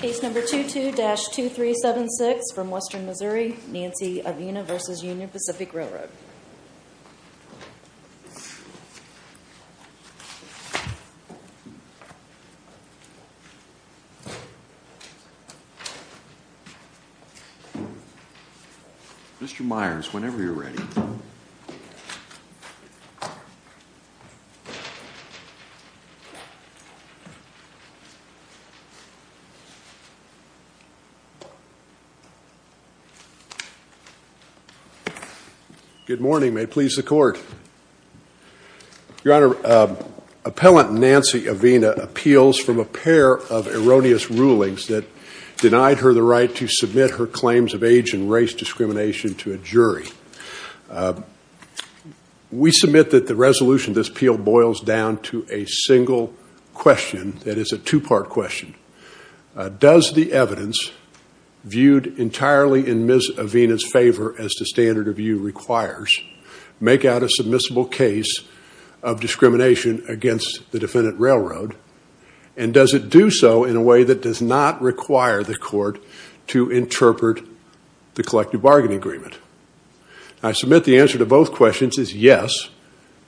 Case number 22-2376 from Western Missouri, Nancy Avina v. Union Pacific Railroad. Mr. Myers, whenever you're ready. Good morning. May it please the Court. Your Honor, appellant Nancy Avina appeals from a pair of erroneous rulings that denied her the right to submit her claims of age and race discrimination to a jury. We submit that the resolution of this appeal boils down to a single question that is a two-part question. Does the evidence viewed entirely in Ms. Avina's favor as the standard of view requires make out a submissible case of discrimination against the defendant railroad? And does it do so in a way that does not require the Court to interpret the collective bargaining agreement? I submit the answer to both questions is yes.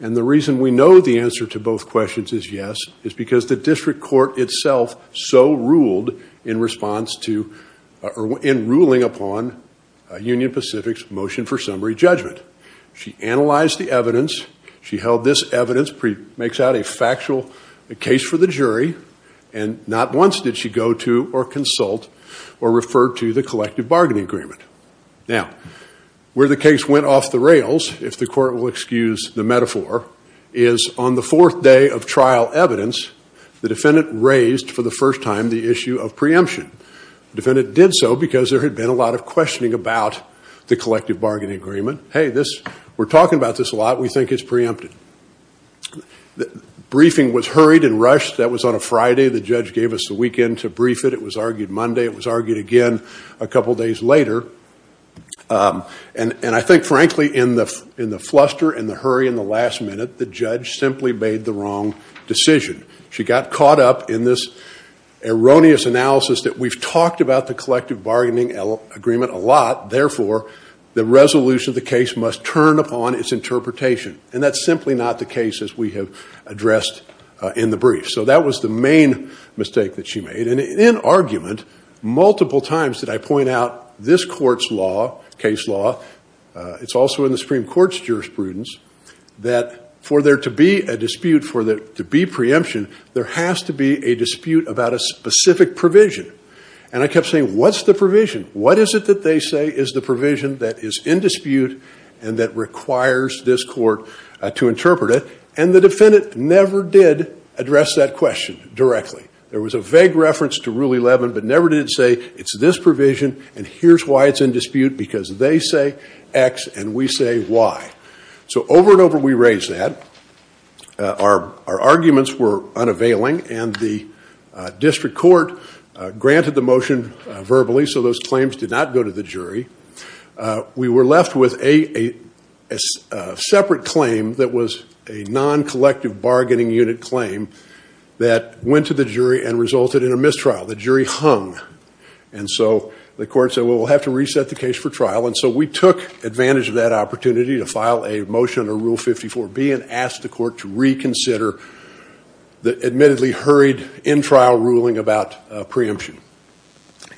And the reason we know the answer to both questions is yes is because the district court itself so ruled in response to or in ruling upon Union Pacific's motion for summary judgment. She analyzed the evidence. She held this evidence makes out a factual case for the jury. And not once did she go to or consult or refer to the collective bargaining agreement. Now, where the case went off the rails, if the Court will excuse the metaphor, is on the fourth day of trial evidence, the defendant raised for the first time the issue of preemption. The defendant did so because there had been a lot of questioning about the collective bargaining agreement. Hey, we're talking about this a lot. We think it's preempted. Briefing was hurried and rushed. That was on a Friday. The judge gave us the weekend to brief it. It was argued Monday. It was argued again a couple days later. And I think, frankly, in the fluster, in the hurry, in the last minute, the judge simply made the wrong decision. She got caught up in this erroneous analysis that we've talked about the collective bargaining agreement a lot. Therefore, the resolution of the case must turn upon its interpretation. And that's simply not the case, as we have addressed in the brief. So that was the main mistake that she made. And in argument, multiple times did I point out this court's law, case law, it's also in the Supreme Court's jurisprudence, that for there to be a dispute, for there to be preemption, there has to be a dispute about a specific provision. And I kept saying, what's the provision? What is it that they say is the provision that is in dispute and that requires this court to interpret it? And the defendant never did address that question directly. There was a vague reference to Rule 11, but never did it say, it's this provision, and here's why it's in dispute, because they say X and we say Y. So over and over we raised that. Our arguments were unavailing, and the district court granted the motion verbally, so those claims did not go to the jury. We were left with a separate claim that was a non-collective bargaining unit claim that went to the jury and resulted in a mistrial. The jury hung, and so the court said, well, we'll have to reset the case for trial. And so we took advantage of that opportunity to file a motion under Rule 54B and ask the court to reconsider the admittedly hurried in-trial ruling about preemption.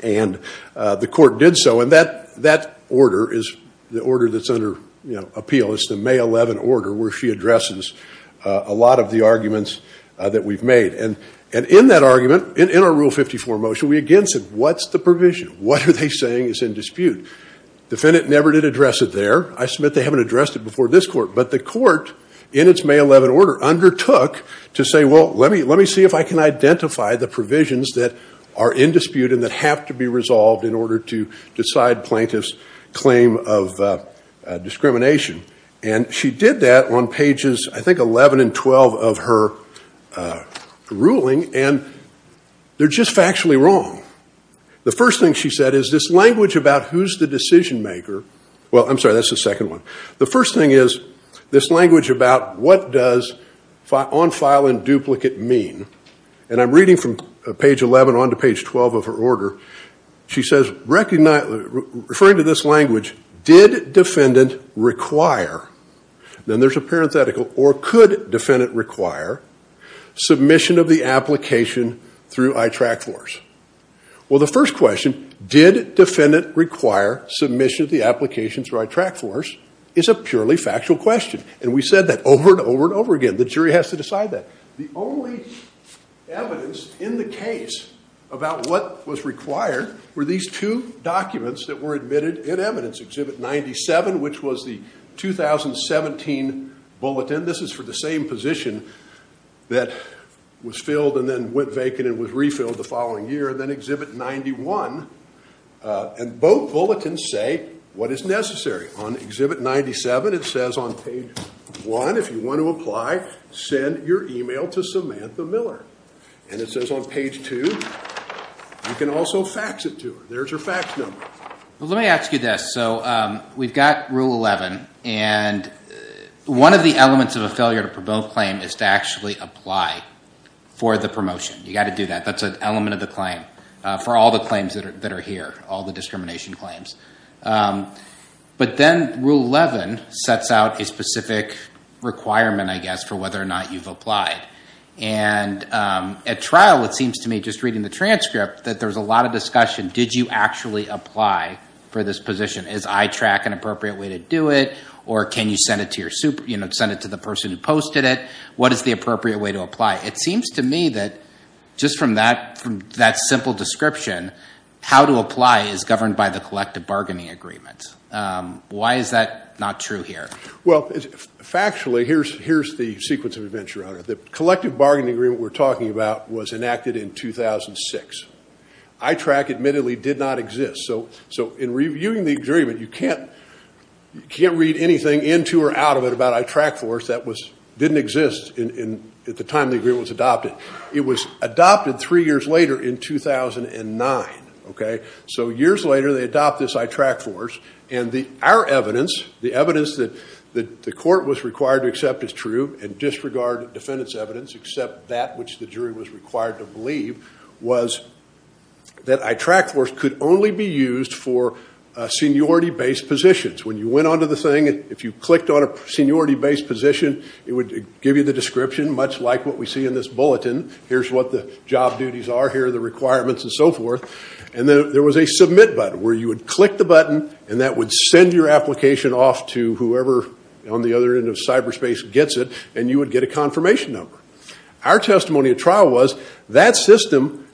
And the court did so, and that order is the order that's under appeal. It's the May 11 order where she addresses a lot of the arguments that we've made. And in that argument, in our Rule 54 motion, we again said, what's the provision? What are they saying is in dispute? Defendant never did address it there. I submit they haven't addressed it before this court. But the court, in its May 11 order, undertook to say, well, let me see if I can identify the provisions that are in dispute and that have to be resolved in order to decide plaintiff's claim of discrimination. And she did that on pages, I think, 11 and 12 of her ruling, and they're just factually wrong. The first thing she said is this language about who's the decision maker, well, I'm sorry, that's the second one. The first thing is this language about what does on-file and duplicate mean. And I'm reading from page 11 on to page 12 of her order. She says, referring to this language, did defendant require, then there's a parenthetical, or could defendant require, submission of the application through ITRAC force? Well, the first question, did defendant require submission of the application through ITRAC force, is a purely factual question. And we said that over and over and over again. The jury has to decide that. The only evidence in the case about what was required were these two documents that were admitted in evidence, Exhibit 97, which was the 2017 bulletin. This is for the same position that was filled and then went vacant and was refilled the following year, and then Exhibit 91. And both bulletins say what is necessary. On Exhibit 97, it says on page 1, if you want to apply, send your email to Samantha Miller. And it says on page 2, you can also fax it to her. There's her fax number. Well, let me ask you this. So we've got Rule 11. And one of the elements of a failure to promote claim is to actually apply for the promotion. You've got to do that. That's an element of the claim for all the claims that are here, all the discrimination claims. But then Rule 11 sets out a specific requirement, I guess, for whether or not you've applied. And at trial, it seems to me, just reading the transcript, that there's a lot of discussion. Did you actually apply for this position? Is ITRAC an appropriate way to do it? Or can you send it to the person who posted it? What is the appropriate way to apply? It seems to me that just from that simple description, how to apply is governed by the collective bargaining agreement. Why is that not true here? Well, factually, here's the sequence of events, Your Honor. The collective bargaining agreement we're talking about was enacted in 2006. ITRAC admittedly did not exist. So in reviewing the agreement, you can't read anything into or out of it about ITRAC force. That didn't exist at the time the agreement was adopted. It was adopted three years later in 2009. So years later, they adopt this ITRAC force. And our evidence, the evidence that the court was required to accept as true and disregard defendant's evidence except that which the jury was required to believe, was that ITRAC force could only be used for seniority-based positions. When you went on to the thing, if you clicked on a seniority-based position, it would give you the description, much like what we see in this bulletin. Here's what the job duties are here, the requirements, and so forth. And there was a submit button where you would click the button, and that would send your application off to whoever on the other end of cyberspace gets it, and you would get a confirmation number. Our testimony at trial was that system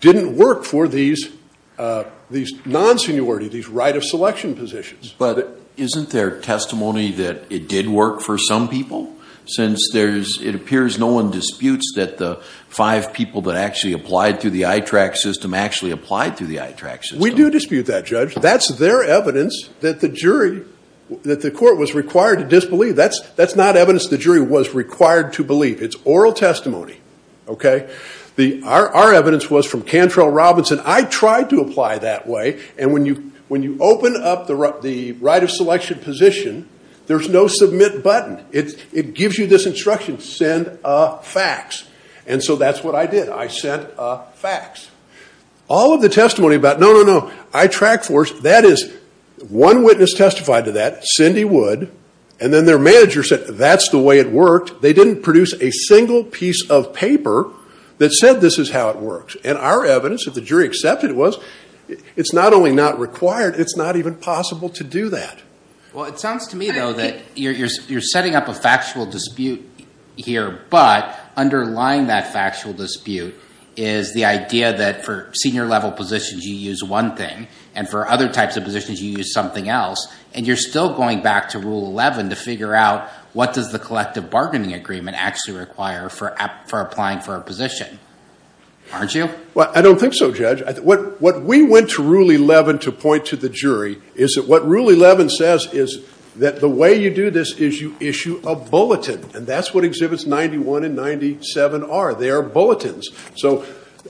didn't work for these non-seniority, these right of selection positions. But isn't there testimony that it did work for some people? Since it appears no one disputes that the five people that actually applied through the ITRAC system actually applied through the ITRAC system. We do dispute that, Judge. That's their evidence that the jury, that the court was required to disbelieve. That's not evidence the jury was required to believe. It's oral testimony. Our evidence was from Cantrell Robinson. I tried to apply that way, and when you open up the right of selection position, there's no submit button. It gives you this instruction, send a fax. And so that's what I did. I sent a fax. All of the testimony about, no, no, no, ITRAC force, that is one witness testified to that, Cindy Wood, and then their manager said that's the way it worked. They didn't produce a single piece of paper that said this is how it works. And our evidence, if the jury accepted it, was it's not only not required, it's not even possible to do that. Well, it sounds to me, though, that you're setting up a factual dispute here, but underlying that factual dispute is the idea that for senior level positions you use one thing, and for other types of positions you use something else, and you're still going back to Rule 11 to figure out what does the collective bargaining agreement actually require for applying for a position. Aren't you? Well, I don't think so, Judge. What we went to Rule 11 to point to the jury is that what Rule 11 says is that the way you do this is you issue a bulletin, and that's what Exhibits 91 and 97 are. They are bulletins. So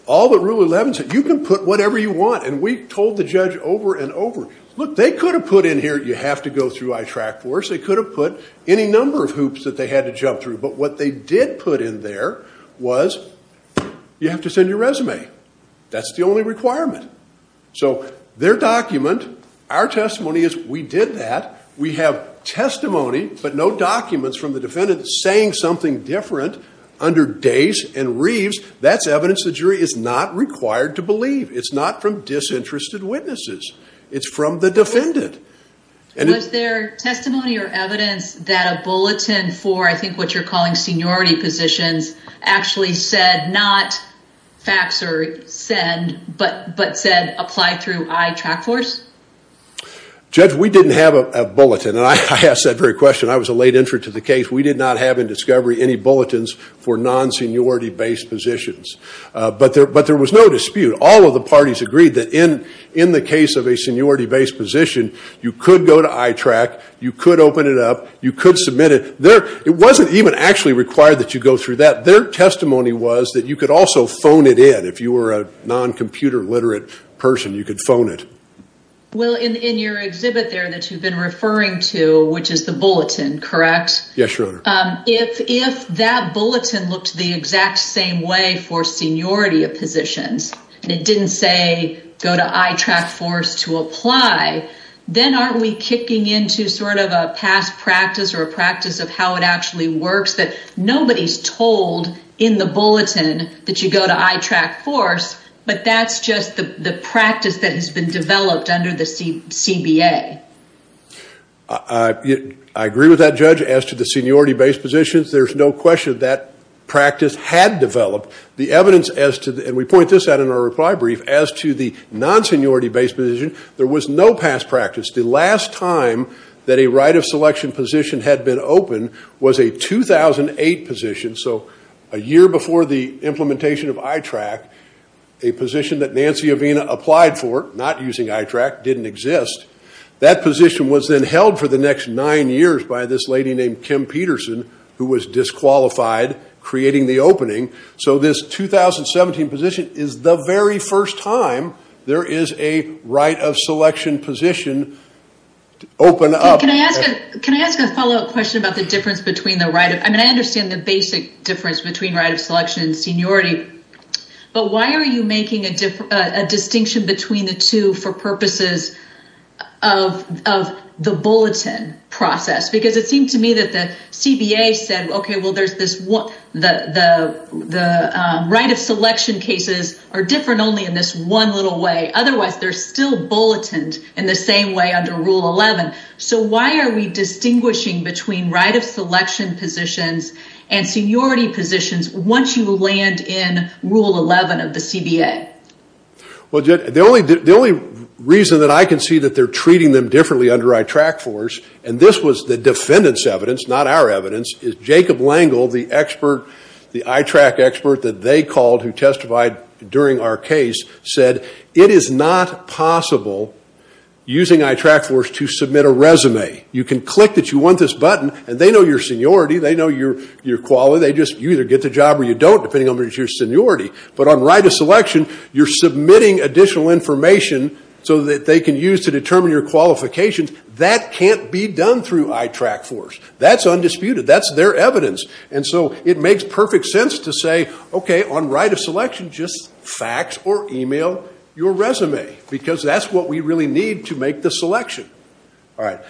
all that Rule 11 said, you can put whatever you want, and we told the judge over and over, look, they could have put in here you have to go through ITRAC force, they could have put any number of hoops that they had to jump through, but what they did put in there was you have to send your resume. That's the only requirement. So their document, our testimony is we did that. We have testimony, but no documents from the defendant saying something different under Dace and Reeves. That's evidence the jury is not required to believe. It's not from disinterested witnesses. It's from the defendant. Was there testimony or evidence that a bulletin for, I think what you're calling seniority positions, actually said not fax or send, but said apply through ITRAC force? Judge, we didn't have a bulletin, and I asked that very question. I was a late entry to the case. We did not have in discovery any bulletins for non-seniority-based positions. But there was no dispute. All of the parties agreed that in the case of a seniority-based position, you could go to ITRAC, you could open it up, you could submit it. It wasn't even actually required that you go through that. Their testimony was that you could also phone it in. If you were a non-computer literate person, you could phone it. Well, in your exhibit there that you've been referring to, which is the bulletin, correct? Yes, Your Honor. If that bulletin looked the exact same way for seniority positions, and it didn't say go to ITRAC force to apply, then aren't we kicking into sort of a past practice or a practice of how it actually works that nobody's told in the bulletin that you go to ITRAC force, but that's just the practice that has been developed under the CBA? I agree with that, Judge. As to the seniority-based positions, there's no question that practice had developed. The evidence as to, and we point this out in our reply brief, as to the non-seniority-based position, there was no past practice. The last time that a right of selection position had been opened was a 2008 position, so a year before the implementation of ITRAC. A position that Nancy Avena applied for, not using ITRAC, didn't exist. That position was then held for the next nine years by this lady named Kim Peterson, who was disqualified creating the opening. So this 2017 position is the very first time there is a right of selection position open up. Can I ask a follow-up question about the difference between the right of— I mean, I understand the basic difference between right of selection and seniority, but why are you making a distinction between the two for purposes of the bulletin process? Because it seemed to me that the CBA said, okay, well, there's this one— the right of selection cases are different only in this one little way. Otherwise, they're still bulleted in the same way under Rule 11. So why are we distinguishing between right of selection positions and seniority positions once you land in Rule 11 of the CBA? Well, the only reason that I can see that they're treating them differently under ITRAC for us, and this was the defendant's evidence, not our evidence, is Jacob Langle, the ITRAC expert that they called who testified during our case, said it is not possible using ITRAC for us to submit a resume. You can click that you want this button, and they know your seniority. They know your quality. They just—you either get the job or you don't, depending on whether it's your seniority. But on right of selection, you're submitting additional information so that they can use to determine your qualifications. That can't be done through ITRAC for us. That's undisputed. That's their evidence. And so it makes perfect sense to say, okay, on right of selection, just fax or email your resume because that's what we really need to make the selection. All right.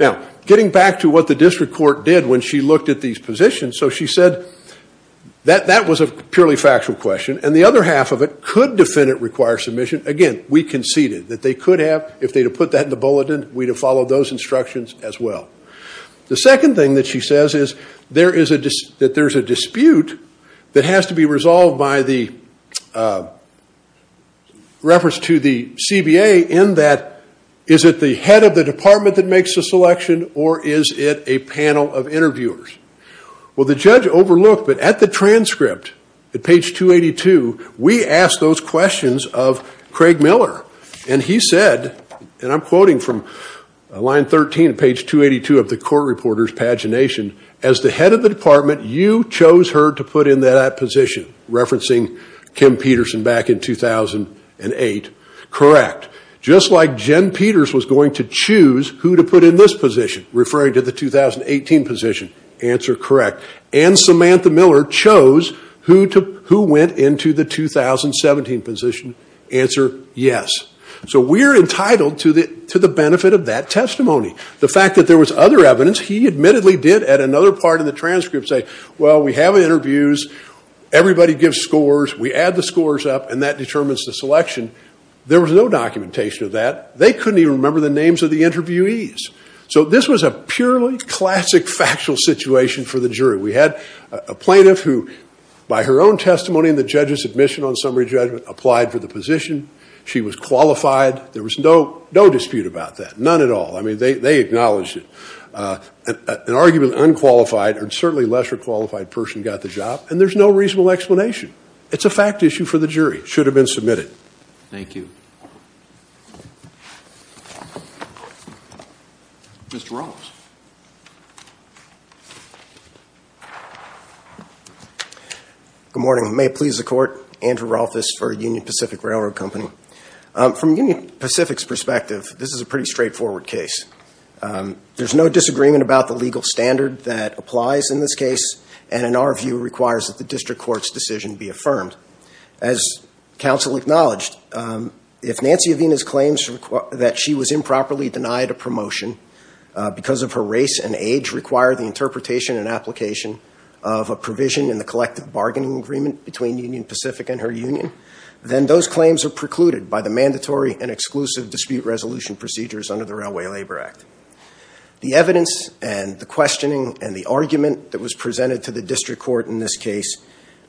Now, getting back to what the district court did when she looked at these positions, so she said that that was a purely factual question, and the other half of it could defendant require submission. Again, we conceded that they could have. If they'd have put that in the bulletin, we'd have followed those instructions as well. The second thing that she says is that there's a dispute that has to be resolved by the reference to the CBA in that is it the head of the department that makes the selection or is it a panel of interviewers? Well, the judge overlooked, but at the transcript, at page 282, we asked those questions of Craig Miller, and he said, and I'm quoting from line 13 of page 282 of the court reporter's pagination, as the head of the department, you chose her to put in that position, referencing Kim Peterson back in 2008. Correct. Just like Jen Peters was going to choose who to put in this position, referring to the 2018 position. Answer, correct. And Samantha Miller chose who went into the 2017 position. Answer, yes. So we're entitled to the benefit of that testimony. The fact that there was other evidence, he admittedly did at another part of the transcript say, well, we have interviews, everybody gives scores, we add the scores up, and that determines the selection. There was no documentation of that. They couldn't even remember the names of the interviewees. So this was a purely classic factual situation for the jury. We had a plaintiff who, by her own testimony and the judge's admission on summary judgment, applied for the position. She was qualified. There was no dispute about that, none at all. I mean, they acknowledged it. An arguably unqualified and certainly lesser qualified person got the job, and there's no reasonable explanation. It's a fact issue for the jury. It should have been submitted. Thank you. Mr. Rolfes. Good morning. May it please the Court, Andrew Rolfes for Union Pacific Railroad Company. From Union Pacific's perspective, this is a pretty straightforward case. There's no disagreement about the legal standard that applies in this case, and in our view requires that the district court's decision be affirmed. As counsel acknowledged, if Nancy Avena's claims that she was improperly denied a promotion because of her race and age require the interpretation and application of a provision in the collective bargaining agreement between Union Pacific and her union, then those claims are precluded by the mandatory and exclusive dispute resolution procedures under the Railway Labor Act. The evidence and the questioning and the argument that was presented to the district court in this case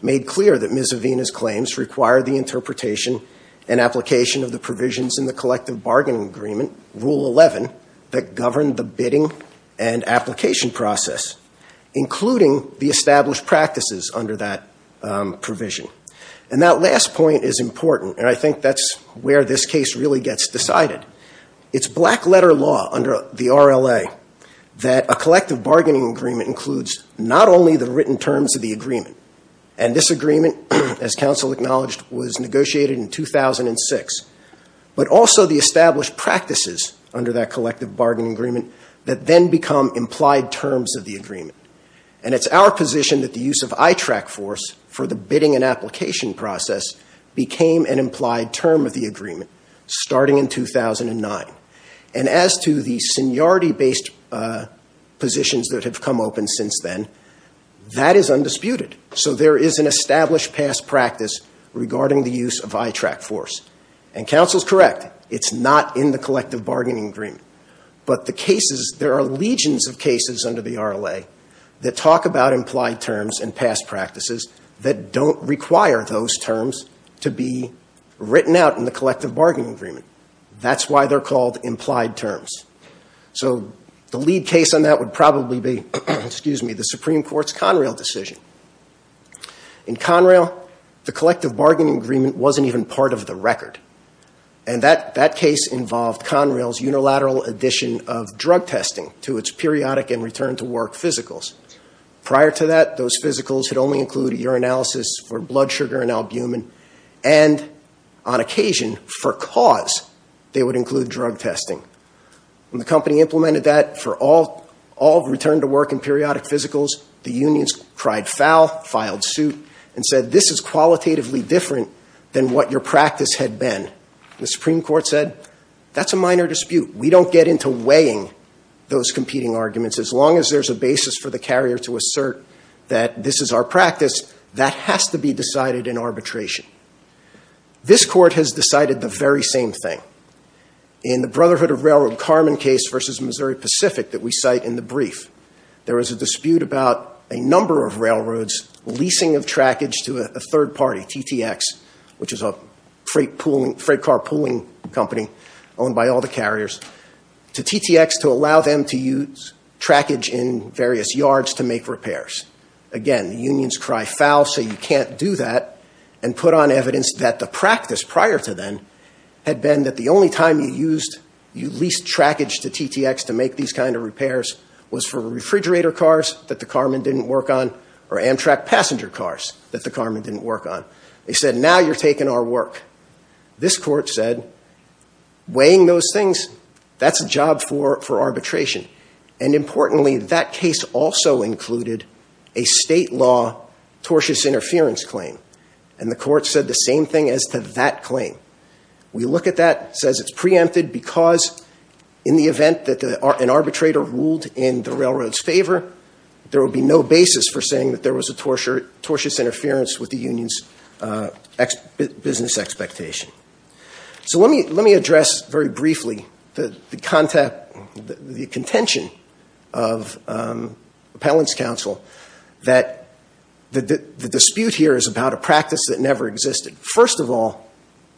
made clear that Ms. Avena's claims require the interpretation and application of the provisions in the collective bargaining agreement, Rule 11, that govern the bidding and application process, including the established practices under that provision. And that last point is important, and I think that's where this case really gets decided. It's black-letter law under the RLA that a collective bargaining agreement includes not only the written terms of the agreement, and this agreement, as counsel acknowledged, was negotiated in 2006, but also the established practices under that collective bargaining agreement that then become implied terms of the agreement. And it's our position that the use of ITRAC force for the bidding and application process became an implied term of the agreement starting in 2009. And as to the seniority-based positions that have come open since then, that is undisputed. So there is an established past practice regarding the use of ITRAC force. And counsel's correct. It's not in the collective bargaining agreement. But the cases, there are legions of cases under the RLA that talk about implied terms and past practices that don't require those terms to be written out in the collective bargaining agreement. That's why they're called implied terms. So the lead case on that would probably be the Supreme Court's Conrail decision. In Conrail, the collective bargaining agreement wasn't even part of the record. And that case involved Conrail's unilateral addition of drug testing to its periodic and return-to-work physicals. Prior to that, those physicals had only included urinalysis for blood sugar and albumin. And on occasion, for cause, they would include drug testing. When the company implemented that for all return-to-work and periodic physicals, the unions cried foul, filed suit, and said, this is qualitatively different than what your practice had been. The Supreme Court said, that's a minor dispute. We don't get into weighing those competing arguments. As long as there's a basis for the carrier to assert that this is our practice, that has to be decided in arbitration. This court has decided the very same thing. In the Brotherhood of Railroad Carmen case versus Missouri Pacific that we cite in the brief, there was a dispute about a number of railroads leasing of trackage to a third party, TTX, which is a freight car pooling company owned by all the carriers, to TTX to allow them to use trackage in various yards to make repairs. Again, the unions cry foul, say you can't do that, and put on evidence that the practice prior to then had been that the only time you used, you leased trackage to TTX to make these kind of repairs was for refrigerator cars that the Carmen didn't work on or Amtrak passenger cars that the Carmen didn't work on. They said, now you're taking our work. This court said, weighing those things, that's a job for arbitration. And importantly, that case also included a state law tortious interference claim. And the court said the same thing as to that claim. We look at that, says it's preempted because in the event that an arbitrator ruled in the railroad's favor, there would be no basis for saying that there was a tortious interference with the union's business expectation. So let me address very briefly the contention of Appellant's counsel that the dispute here is about a practice that never existed. First of all,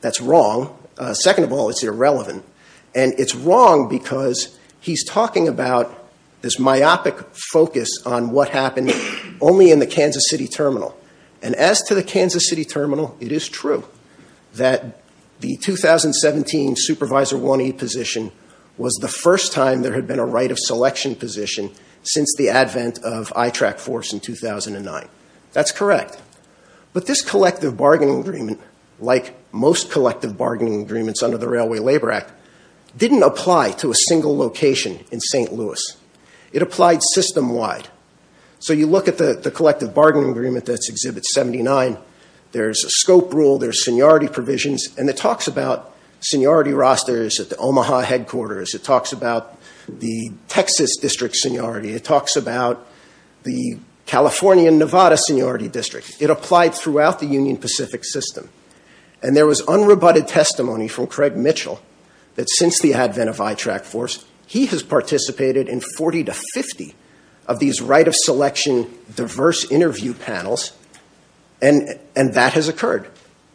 that's wrong. Second of all, it's irrelevant. And it's wrong because he's talking about this myopic focus on what happened only in the Kansas City Terminal. And as to the Kansas City Terminal, it is true that the 2017 Supervisor 1E position was the first time there had been a right of selection position since the advent of ITRAC force in 2009. That's correct. But this collective bargaining agreement, like most collective bargaining agreements under the Railway Labor Act, didn't apply to a single location in St. Louis. It applied system-wide. So you look at the collective bargaining agreement that's Exhibit 79. There's a scope rule. There's seniority provisions. And it talks about seniority rosters at the Omaha headquarters. It talks about the Texas district seniority. It talks about the California and Nevada seniority district. It applied throughout the Union Pacific system. And there was unrebutted testimony from Craig Mitchell that since the advent of ITRAC force, he has participated in 40 to 50 of these right of selection diverse interview panels, and that has occurred.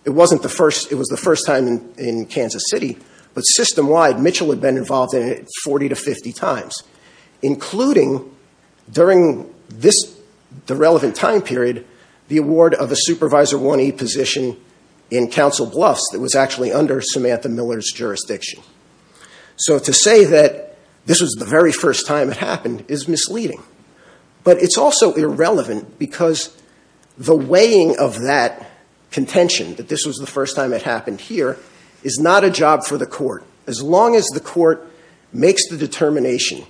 It was the first time in Kansas City, but system-wide, Mitchell had been involved in it 40 to 50 times, including during the relevant time period the award of a Supervisor 1E position in Council Bluffs that was actually under Samantha Miller's jurisdiction. So to say that this was the very first time it happened is misleading. But it's also irrelevant because the weighing of that contention, that this was the first time it happened here, is not a job for the court. As long as the court makes the determination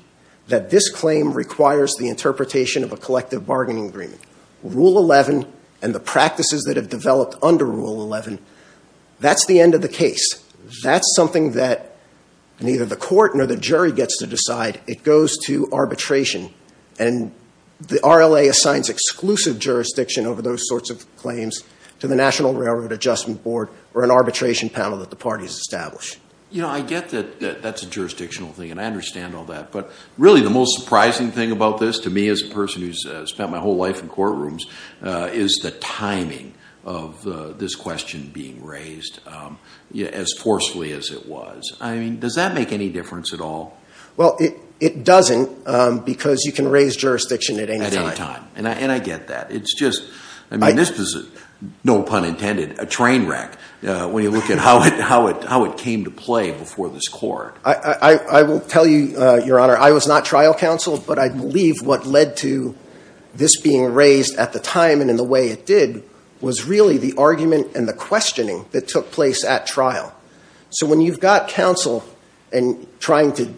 that this claim requires the interpretation of a collective bargaining agreement, Rule 11 and the practices that have developed under Rule 11, that's the end of the case. That's something that neither the court nor the jury gets to decide. It goes to arbitration. And the RLA assigns exclusive jurisdiction over those sorts of claims to the National Railroad Adjustment Board or an arbitration panel that the parties establish. You know, I get that that's a jurisdictional thing, and I understand all that, but really the most surprising thing about this to me as a person who's spent my whole life in courtrooms is the timing of this question being raised as forcefully as it was. I mean, does that make any difference at all? Well, it doesn't because you can raise jurisdiction at any time. At any time, and I get that. I mean, this was, no pun intended, a train wreck when you look at how it came to play before this court. I will tell you, Your Honor, I was not trial counsel, but I believe what led to this being raised at the time and in the way it did was really the argument and the questioning that took place at trial. So when you've got counsel trying to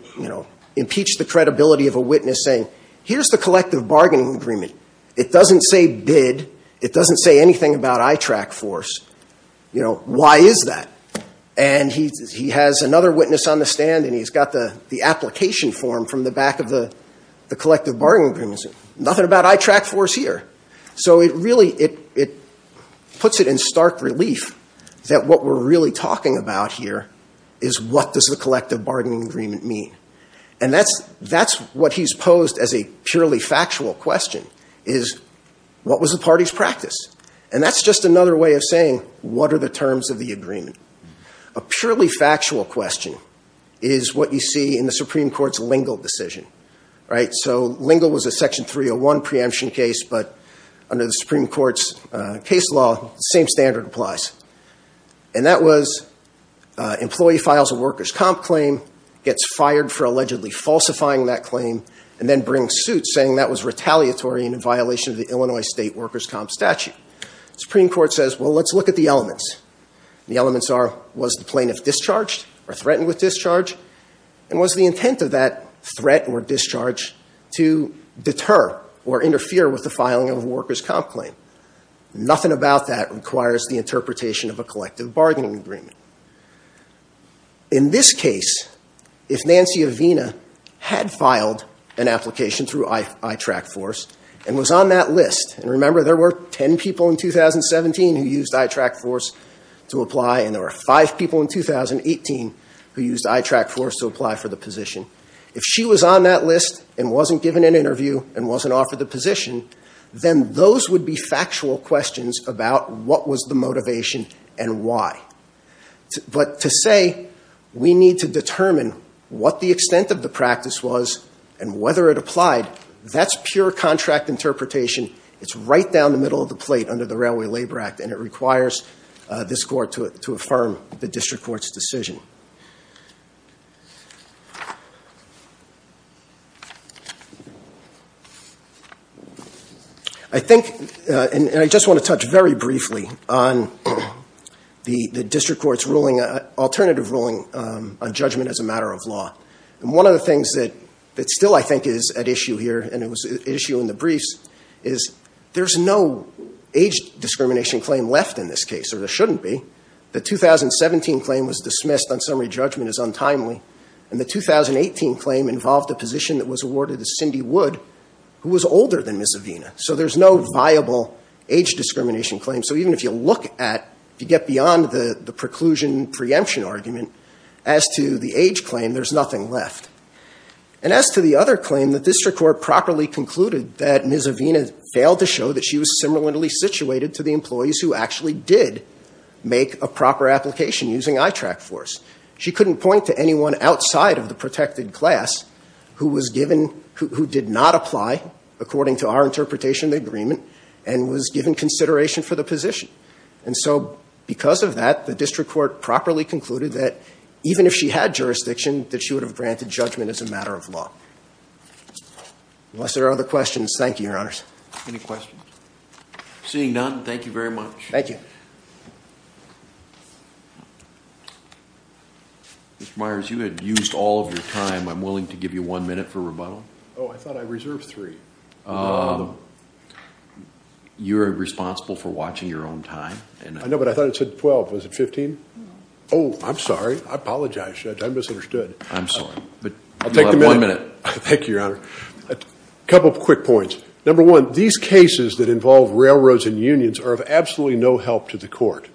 impeach the credibility of a witness saying, here's the collective bargaining agreement. It doesn't say bid. It doesn't say anything about ITRAC force. You know, why is that? And he has another witness on the stand, and he's got the application form from the back of the collective bargaining agreement. Nothing about ITRAC force here. So it really, it puts it in stark relief that what we're really talking about here is what does the collective bargaining agreement mean. And that's what he's posed as a purely factual question is, what was the party's practice? And that's just another way of saying, what are the terms of the agreement? A purely factual question is what you see in the Supreme Court's Lingle decision, right? So Lingle was a Section 301 preemption case, but under the Supreme Court's case law, the same standard applies. And that was employee files a workers' comp claim, gets fired for allegedly falsifying that claim, and then brings suit saying that was retaliatory and in violation of the Illinois state workers' comp statute. The Supreme Court says, well, let's look at the elements. The elements are, was the plaintiff discharged or threatened with discharge? And was the intent of that threat or discharge to deter or interfere with the filing of a workers' comp claim? Nothing about that requires the interpretation of a collective bargaining agreement. In this case, if Nancy Avena had filed an application through ITRAC Force and was on that list, and remember there were 10 people in 2017 who used ITRAC Force to apply, and there were five people in 2018 who used ITRAC Force to apply for the position. If she was on that list and wasn't given an interview and wasn't offered the position, then those would be factual questions about what was the motivation and why. But to say we need to determine what the extent of the practice was and whether it applied, that's pure contract interpretation. It's right down the middle of the plate under the Railway Labor Act, and it requires this court to affirm the district court's decision. I think, and I just want to touch very briefly on the district court's ruling, alternative ruling on judgment as a matter of law. And one of the things that still, I think, is at issue here, and it was at issue in the briefs, is there's no age discrimination claim left in this case, or there shouldn't be. The 2017 claim was dismissed on summary judgment as untimely, and the 2018 claim involved a position that was awarded to Cindy Wood, who was older than Ms. Avena. So there's no viable age discrimination claim. So even if you look at, if you get beyond the preclusion preemption argument, as to the age claim, there's nothing left. And as to the other claim, the district court properly concluded that Ms. Avena failed to show that she was similarly situated to the employees who actually did make a proper application using eye track force. She couldn't point to anyone outside of the protected class who was given, who did not apply according to our interpretation of the agreement, and was given consideration for the position. And so because of that, the district court properly concluded that even if she had jurisdiction, that she would have granted judgment as a matter of law. Unless there are other questions, thank you, your honors. Any questions? Seeing none, thank you very much. Thank you. Mr. Myers, you had used all of your time. I'm willing to give you one minute for rebuttal. Oh, I thought I reserved three. You're responsible for watching your own time. I know, but I thought it said 12. Was it 15? Oh, I'm sorry. I apologize, Judge. I misunderstood. I'm sorry. I'll take the minute. One minute. Thank you, your honor. A couple of quick points. Number one, these cases that involve railroads and unions are of absolutely no help to the court.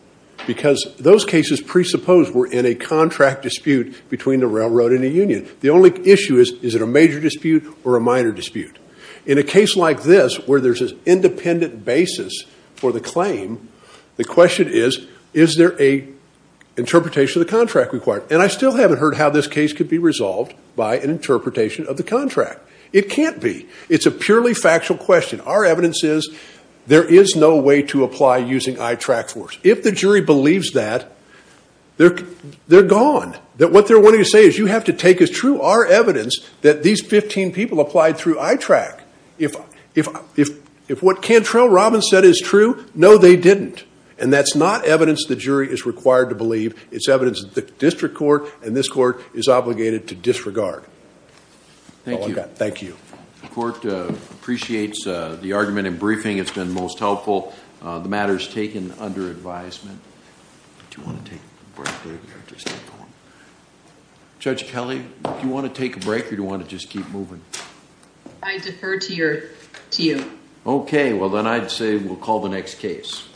Because those cases presuppose we're in a contract dispute between a railroad and a union. The only issue is, is it a major dispute or a minor dispute? In a case like this, where there's an independent basis for the claim, the question is, is there an interpretation of the contract required? And I still haven't heard how this case could be resolved by an interpretation of the contract. It can't be. It's a purely factual question. Our evidence is there is no way to apply using I-TRAC force. If the jury believes that, they're gone. What they're wanting to say is you have to take as true our evidence that these 15 people applied through I-TRAC. If what Cantrell Robbins said is true, no, they didn't. And that's not evidence the jury is required to believe. It's evidence that the district court and this court is obligated to disregard. Thank you. The court appreciates the argument in briefing. It's been most helpful. The matter is taken under advisement. Do you want to take a break? Judge Kelly, do you want to take a break or do you want to just keep moving? I defer to you. Okay, well, then I'd say we'll call the next case.